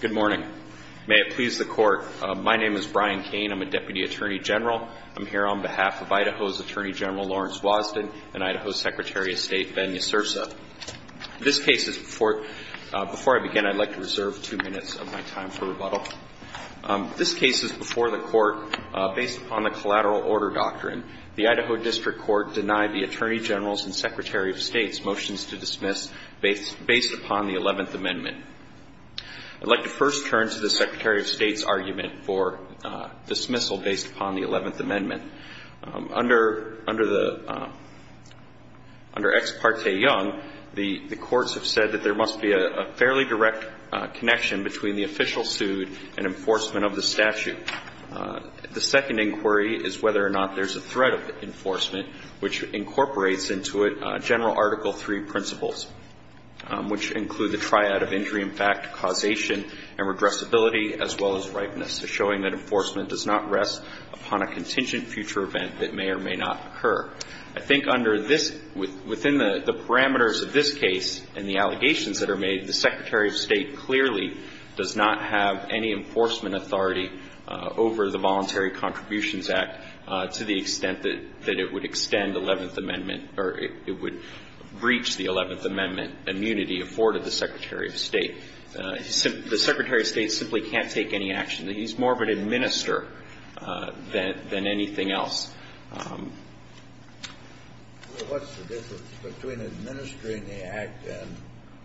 Good morning. May it please the Court, my name is Brian Cain. I'm a Deputy Attorney General. I'm here on behalf of Idaho's Attorney General Lawrence Wosden and Idaho's Secretary of State Ben Ysursa. This case is before, before I begin, I'd like to reserve two minutes of my time for rebuttal. This case is before the Court based upon the Collateral Order Doctrine. The Idaho District Court denied the Attorney General's and Secretary of State's motions to dismiss based upon the 11th Amendment. I'd like to first turn to the Secretary of State's argument for dismissal based upon the 11th Amendment. Under, under the, under Ex Parte Young, the courts have said that there must be a fairly direct connection between the official suit and enforcement of the statute. The second inquiry is whether or not there's a threat of enforcement, which incorporates into it General Article III principles, which include the triad of injury in fact, causation, and regressibility, as well as ripeness. So showing that enforcement does not rest upon a contingent future event that may or may not occur. I think under this, within the parameters of this case and the allegations that are made, the Secretary of State clearly does not have any enforcement authority over the Voluntary Contributions Act to the extent that it would extend the 11th Amendment or it would breach the 11th Amendment immunity afforded the Secretary of State. The Secretary of State simply can't take any action. He's more of an administer than, than anything else. Well, what's the difference between administering the act and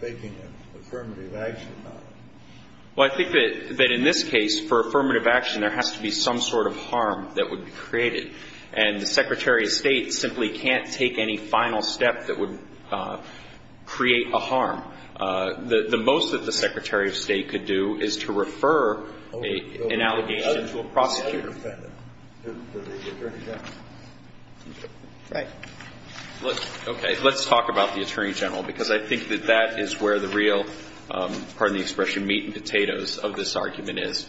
taking an affirmative action on it? Well, I think that, that in this case, for affirmative action, there has to be some sort of harm that would be created. And the Secretary of State simply can't take any final step that would create a harm. The most that the Secretary of State could do is to refer an allegation to a prosecutor. Right. Okay. Let's talk about the Attorney General, because I think that that is where the real, pardon the expression, meat and potatoes of this argument is.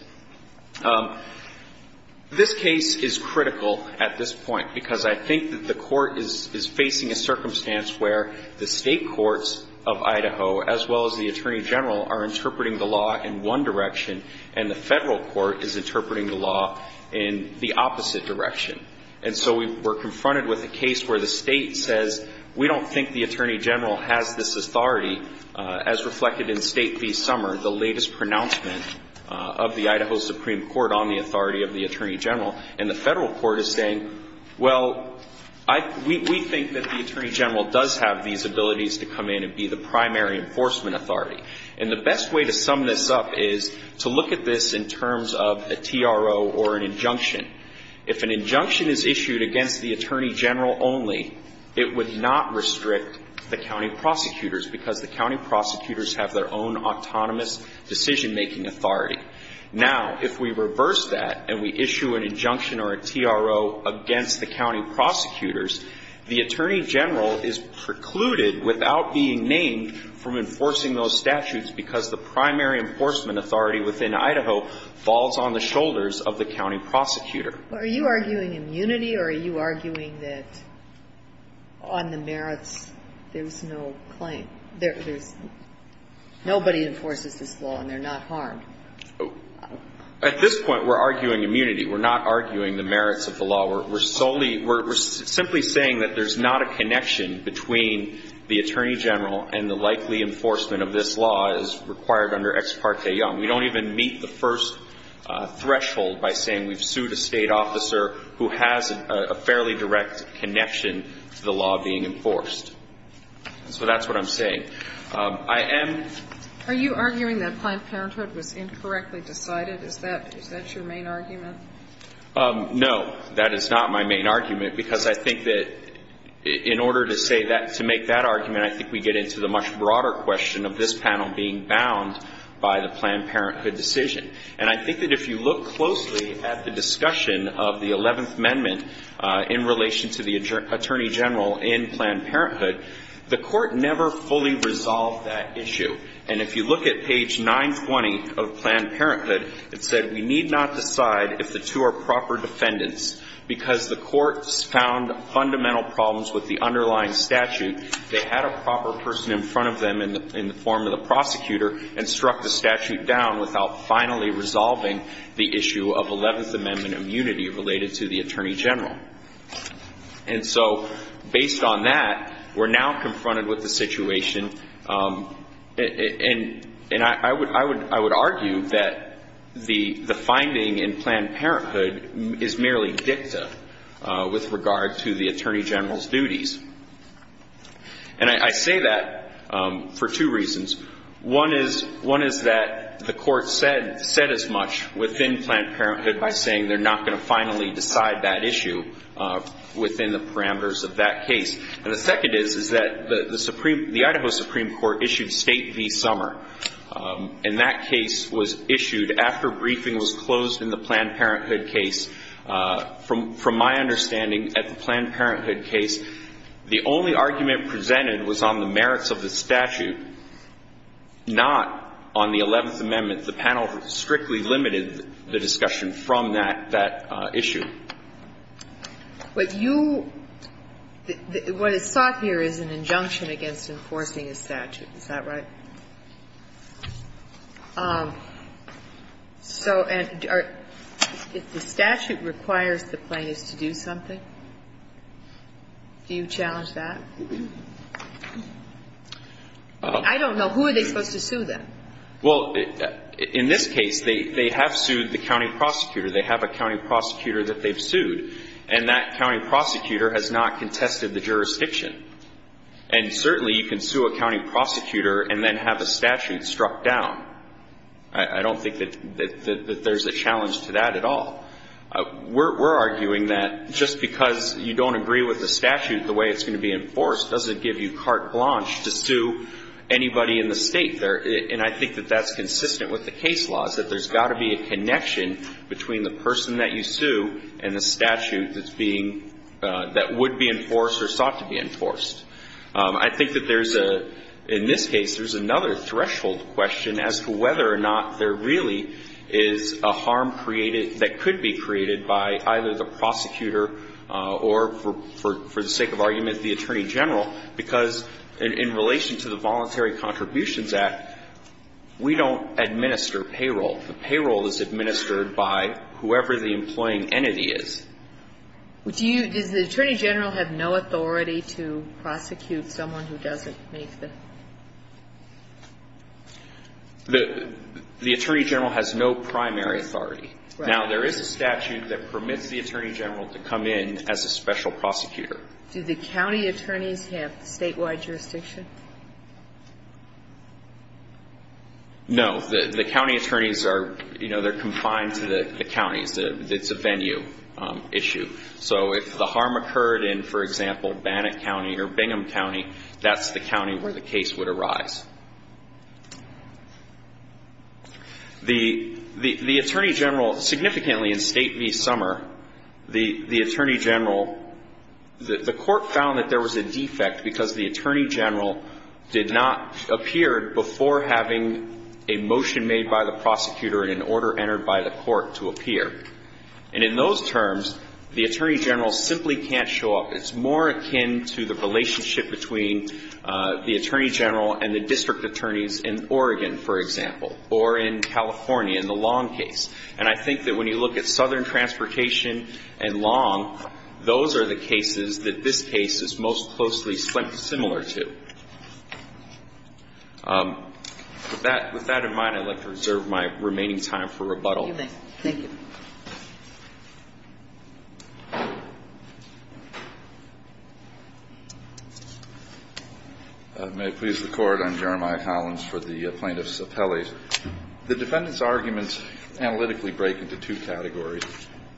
This case is critical at this point, because I think that the Court is facing a circumstance where the State courts of Idaho, as well as the Attorney General, are interpreting the law in one direction, and the Federal court is interpreting the law in the opposite direction. And so we're confronted with a case where the State says, we don't think the Attorney General has this authority, as reflected in State v. Summer, the latest pronouncement of the Idaho Supreme Court on the authority of the Attorney General. And the Federal court is saying, well, we think that the Attorney General does have these abilities to come in and be the primary enforcement authority. And the best way to sum this up is to look at this in terms of a TRO or an injunction. If an injunction is issued against the Attorney General only, it would not restrict the county prosecutors, because the county prosecutors have their own autonomous decision-making authority. Now, if we reverse that and we issue an injunction or a TRO against the county prosecutors, the Attorney General is precluded without being named from enforcing those statutes, because the primary enforcement authority within Idaho falls on the shoulders of the county prosecutor. Are you arguing immunity, or are you arguing that on the merits, there's no claim? There's nobody enforces this law, and they're not harmed. At this point, we're arguing immunity. We're not arguing the merits of the law. We're solely we're simply saying that there's not a connection between the Attorney General and the likely enforcement of this law as required under Ex parte Young. We don't even meet the first threshold by saying we've sued a State officer who has a fairly direct connection to the law being enforced. So that's what I'm saying. I am Are you arguing that Planned Parenthood was incorrectly decided? Is that your main argument? No, that is not my main argument, because I think that in order to say that, to make that argument, I think we get into the much broader question of this panel being bound by the Planned Parenthood decision. And I think that if you look closely at the discussion of the 11th Amendment in relation to the Attorney General in Planned Parenthood, the Court never fully resolved that issue. And if you look at page 920 of Planned Parenthood, it said we need not decide if the two are proper defendants, because the courts found fundamental problems with the underlying statute. They had a proper person in front of them in the form of the prosecutor and struck the statute down without finally resolving the issue of 11th Amendment immunity related to the Attorney General. And so based on that, we're now confronted with the situation. And I would argue that the finding in Planned Parenthood is merely dicta with regard to the Attorney General's duties. And I say that for two reasons. One is that the Court said as much within Planned Parenthood by saying they're not going to finally decide that issue within the parameters of that case. And the second is, is that the Supreme the Idaho Supreme Court issued State v. Sommer. And that case was issued after briefing was closed in the Planned Parenthood case. From my understanding at the Planned Parenthood case, the only argument presented was on the merits of the statute, not on the 11th Amendment. The panel strictly limited the discussion from that issue. But you – what is sought here is an injunction against enforcing a statute. Is that right? So if the statute requires the plaintiffs to do something, do you challenge that? I don't know. Who are they supposed to sue, then? Well, in this case, they have sued the county prosecutor. They have a county prosecutor that they've sued. And that county prosecutor has not contested the jurisdiction. And certainly you can sue a county prosecutor and then have a statute struck down. I don't think that there's a challenge to that at all. We're arguing that just because you don't agree with the statute the way it's going to be enforced doesn't give you carte blanche to sue anybody in the State there. And I think that that's consistent with the case laws, that there's got to be a connection between the person that you sue and the statute that's being – that would be enforced or sought to be enforced. I think that there's a – in this case, there's another threshold question as to whether or not there really is a harm created – that could be created by either the prosecutor or, for the sake of argument, the Attorney General, because in relation to the Voluntary Contributions Act, we don't administer payroll. The payroll is administered by whoever the employing entity is. Do you – does the Attorney General have no authority to prosecute someone who doesn't make the – The Attorney General has no primary authority. Right. Now, there is a statute that permits the Attorney General to come in as a special prosecutor. Do the county attorneys have statewide jurisdiction? No. The county attorneys are – you know, they're confined to the counties. It's a venue issue. So if the harm occurred in, for example, Bannett County or Bingham County, that's the county where the case would arise. The Attorney General – significantly in State v. Summer, the Attorney General – the court found that there was a defect because the Attorney General did not appear before having a motion made by the prosecutor and an order entered by the court to appear. And in those terms, the Attorney General simply can't show up. It's more akin to the relationship between the Attorney General and the district attorneys in Oregon, for example, or in California in the Long case. And I think that when you look at Southern Transportation and Long, those are the cases that this case is most closely similar to. With that in mind, I'd like to reserve my remaining time for rebuttal. Thank you. Thank you. May it please the Court. I'm Jeremiah Hollins for the Plaintiffs' Appellate. The defendants' arguments analytically break into two categories.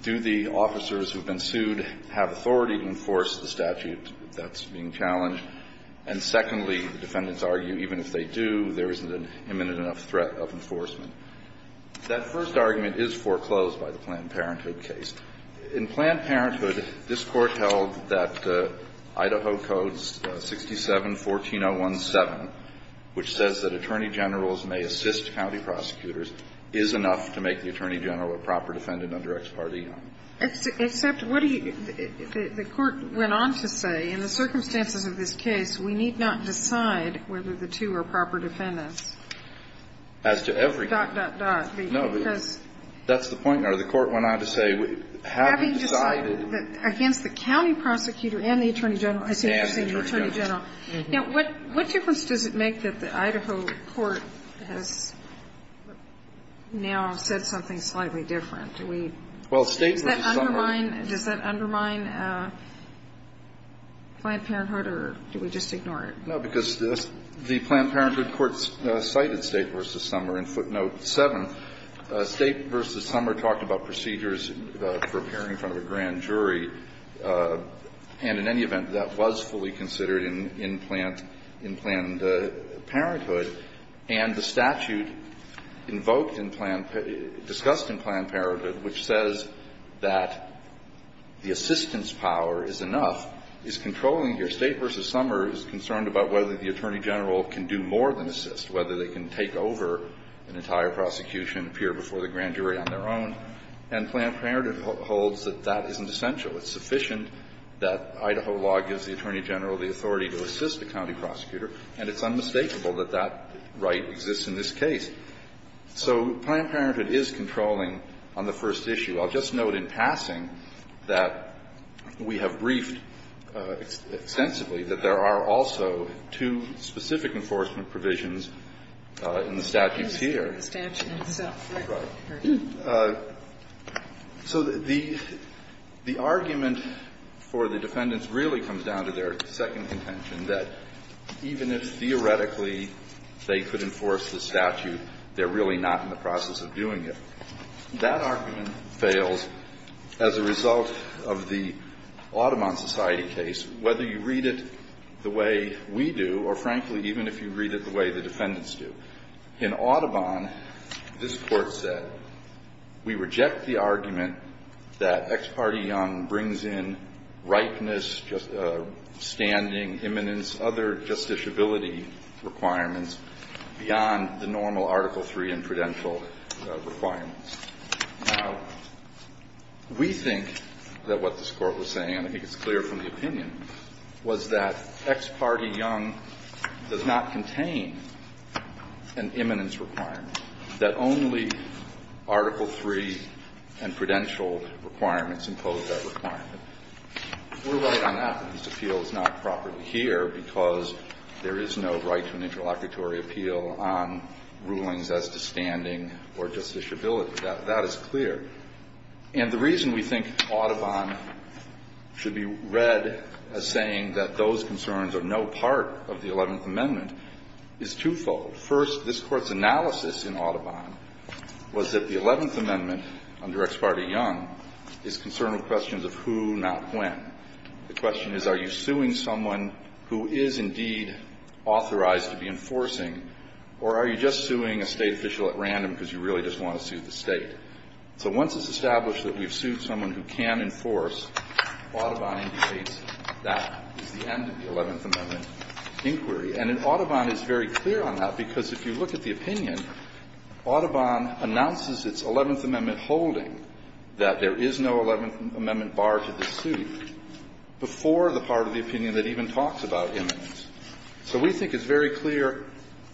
Do the officers who have been sued have authority to enforce the statute that's being challenged? And secondly, the defendants argue even if they do, there isn't an imminent enough threat of enforcement. That first argument is foreclosed. It's foreclosed by the Planned Parenthood case. In Planned Parenthood, this Court held that Idaho Codes 67-14017, which says that attorney generals may assist county prosecutors, is enough to make the attorney general a proper defendant under Ex parte. Except what do you the Court went on to say, in the circumstances of this case, we need not decide whether the two are proper defendants. As to every case. Dot, dot, dot. No. That's the point there. The Court went on to say having decided. Having decided against the county prosecutor and the attorney general. And the attorney general. And the attorney general. Now, what difference does it make that the Idaho court has now said something slightly different? Do we? Well, State v. Summer. Does that undermine Planned Parenthood or do we just ignore it? No, because the Planned Parenthood courts cited State v. Summer in footnote 7. State v. Summer talked about procedures for appearing in front of a grand jury. And in any event, that was fully considered in Planned Parenthood. And the statute invoked in Planned Parenthood, discussed in Planned Parenthood, which says that the assistance power is enough, is controlling here. State v. Summer is concerned about whether the attorney general can do more than assist, whether they can take over an entire prosecution, appear before the grand jury on their own. And Planned Parenthood holds that that isn't essential. It's sufficient that Idaho law gives the attorney general the authority to assist a county prosecutor. And it's unmistakable that that right exists in this case. So Planned Parenthood is controlling on the first issue. I'll just note in passing that we have briefed extensively that there are also two specific enforcement provisions in the statutes here. The statute itself, right? Right. So the argument for the defendants really comes down to their second contention, that even if theoretically they could enforce the statute, they're really not in the process of doing it. That argument fails as a result of the Audubon Society case, whether you read it the way we do or, frankly, even if you read it the way the defendants do. In Audubon, this Court said, we reject the argument that Ex parte Young brings in ripeness, standing, imminence, other justiciability requirements beyond the normal Article III and prudential requirements. Now, we think that what this Court was saying, and I think it's clear from the opinion, was that Ex parte Young does not contain an imminence requirement, that only Article III and prudential requirements impose that requirement. We're right on that. This appeal is not properly here because there is no right to an interlocutory appeal on rulings as to standing or justiciability. That is clear. And the reason we think Audubon should be read as saying that those concerns are no part of the Eleventh Amendment is twofold. First, this Court's analysis in Audubon was that the Eleventh Amendment under Ex parte Young is concerned with questions of who, not when. The question is, are you suing someone who is indeed authorized to be enforcing, or are you just suing a State official at random because you really just want to sue the State? So once it's established that we've sued someone who can enforce, Audubon indicates that is the end of the Eleventh Amendment inquiry. And Audubon is very clear on that, because if you look at the opinion, Audubon announces its Eleventh Amendment holding that there is no Eleventh Amendment bar to the suit before the part of the opinion that even talks about imminence. So we think it's very clear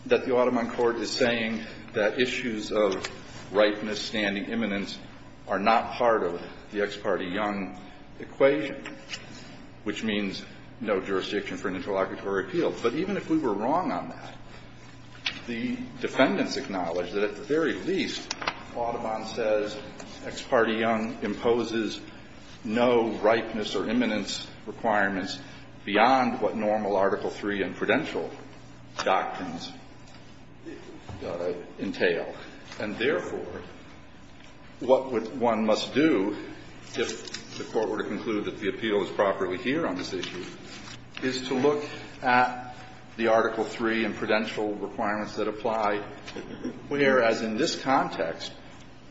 that the Audubon Court is saying that issues of right misstanding imminence are not part of the Ex parte Young equation, which means no jurisdiction for an interlocutory appeal. But even if we were wrong on that, the defendants acknowledge that at the very least, Audubon says Ex parte Young imposes no ripeness or imminence requirements beyond what normal Article III and prudential doctrines entail. And therefore, what one must do if the Court were to conclude that the appeal is properly heard on this issue is to look at the Article III and prudential requirements that apply, whereas in this context,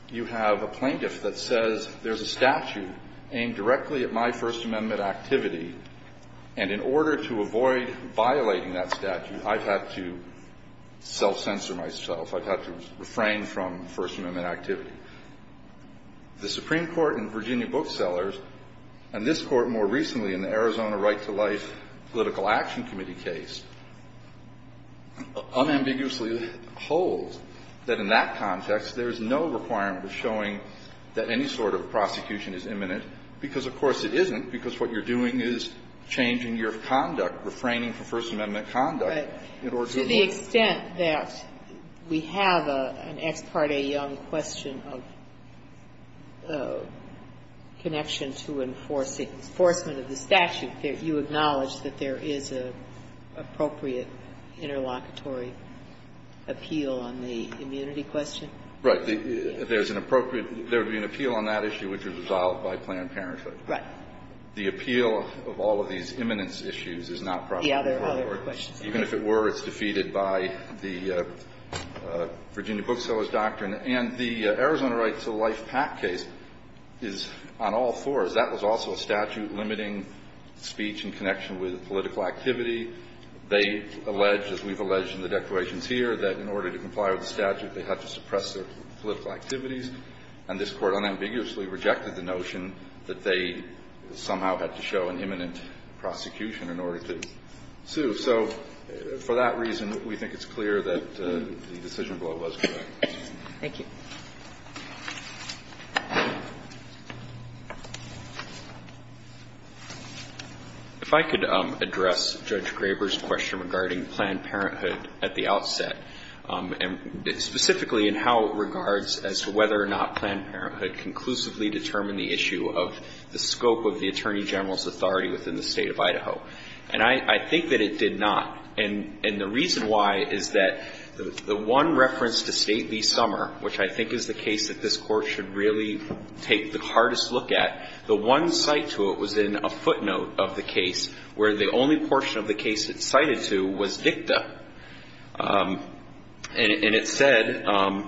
you have a plaintiff that says there's a statute aimed directly at my First Amendment activity, and in order to avoid violating that statute, I've had to self-censor myself. I've had to refrain from First Amendment activity. The Supreme Court in Virginia booksellers, and this Court more recently in the Arizona Right to Life Political Action Committee case, unambiguously holds that in that context, there is no requirement of showing that any sort of prosecution is imminent, because, of course, it isn't, because what you're doing is changing your conduct, refraining from First Amendment conduct. Sotomayor, to the extent that we have an Ex parte Young question of connection to enforcement of the statute, you acknowledge that there is an appropriate interlocutory appeal on the immunity question? Right. There's an appropriate – there would be an appeal on that issue which is resolved by Planned Parenthood. Right. The appeal of all of these imminence issues is not properly heard. Yeah, there are other questions. Even if it were, it's defeated by the Virginia booksellers' doctrine. And the Arizona Right to Life PAC case is on all fours. That was also a statute limiting speech in connection with political activity. They allege, as we've alleged in the declarations here, that in order to comply with the statute, they have to suppress their political activities. And this Court unambiguously rejected the notion that they somehow had to show an imminent prosecution in order to sue. So for that reason, we think it's clear that the decision blow was correct. Thank you. If I could address Judge Graber's question regarding Planned Parenthood at the outset, and specifically in how it regards as to whether or not Planned Parenthood conclusively determined the issue of the scope of the Attorney General's authority within the State of Idaho. And I think that it did not. And the reason why is that the one reference to State v. Summer, which I think is the case that this Court should really take the hardest look at, the one cite to it was in a footnote of the case where the only portion of the case it cited to was dicta. And it said, and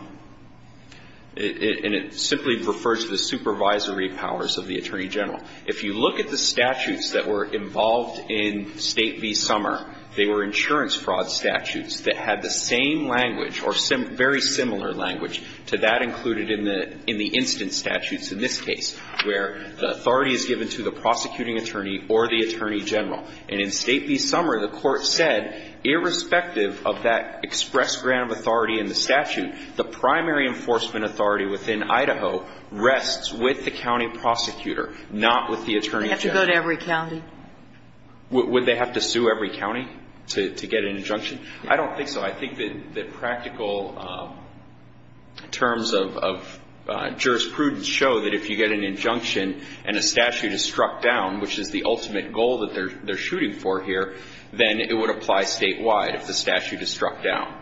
it simply refers to the supervisory powers of the Attorney General. If you look at the statutes that were involved in State v. Summer, they were insurance fraud statutes that had the same language or very similar language to that included in the instant statutes in this case, where the authority is given to the prosecuting attorney or the Attorney General. And in State v. Summer, the Court said, irrespective of that express grant of authority in the statute, the primary enforcement authority within Idaho rests with the county prosecutor, not with the Attorney General. They have to go to every county. Would they have to sue every county to get an injunction? I don't think so. I think that practical terms of jurisprudence show that if you get an injunction and a statute is struck down, which is the ultimate goal that they're shooting for here, then it would apply statewide if the statute is struck down.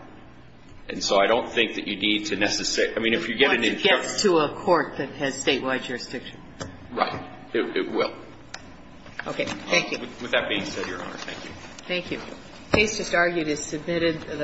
And so I don't think that you need to necessarily – I mean, if you get an injunction Once it gets to a court that has statewide jurisdiction. Right. It will. Okay. Thank you. With that being said, Your Honor, thank you. Thank you. The case just argued is submitted.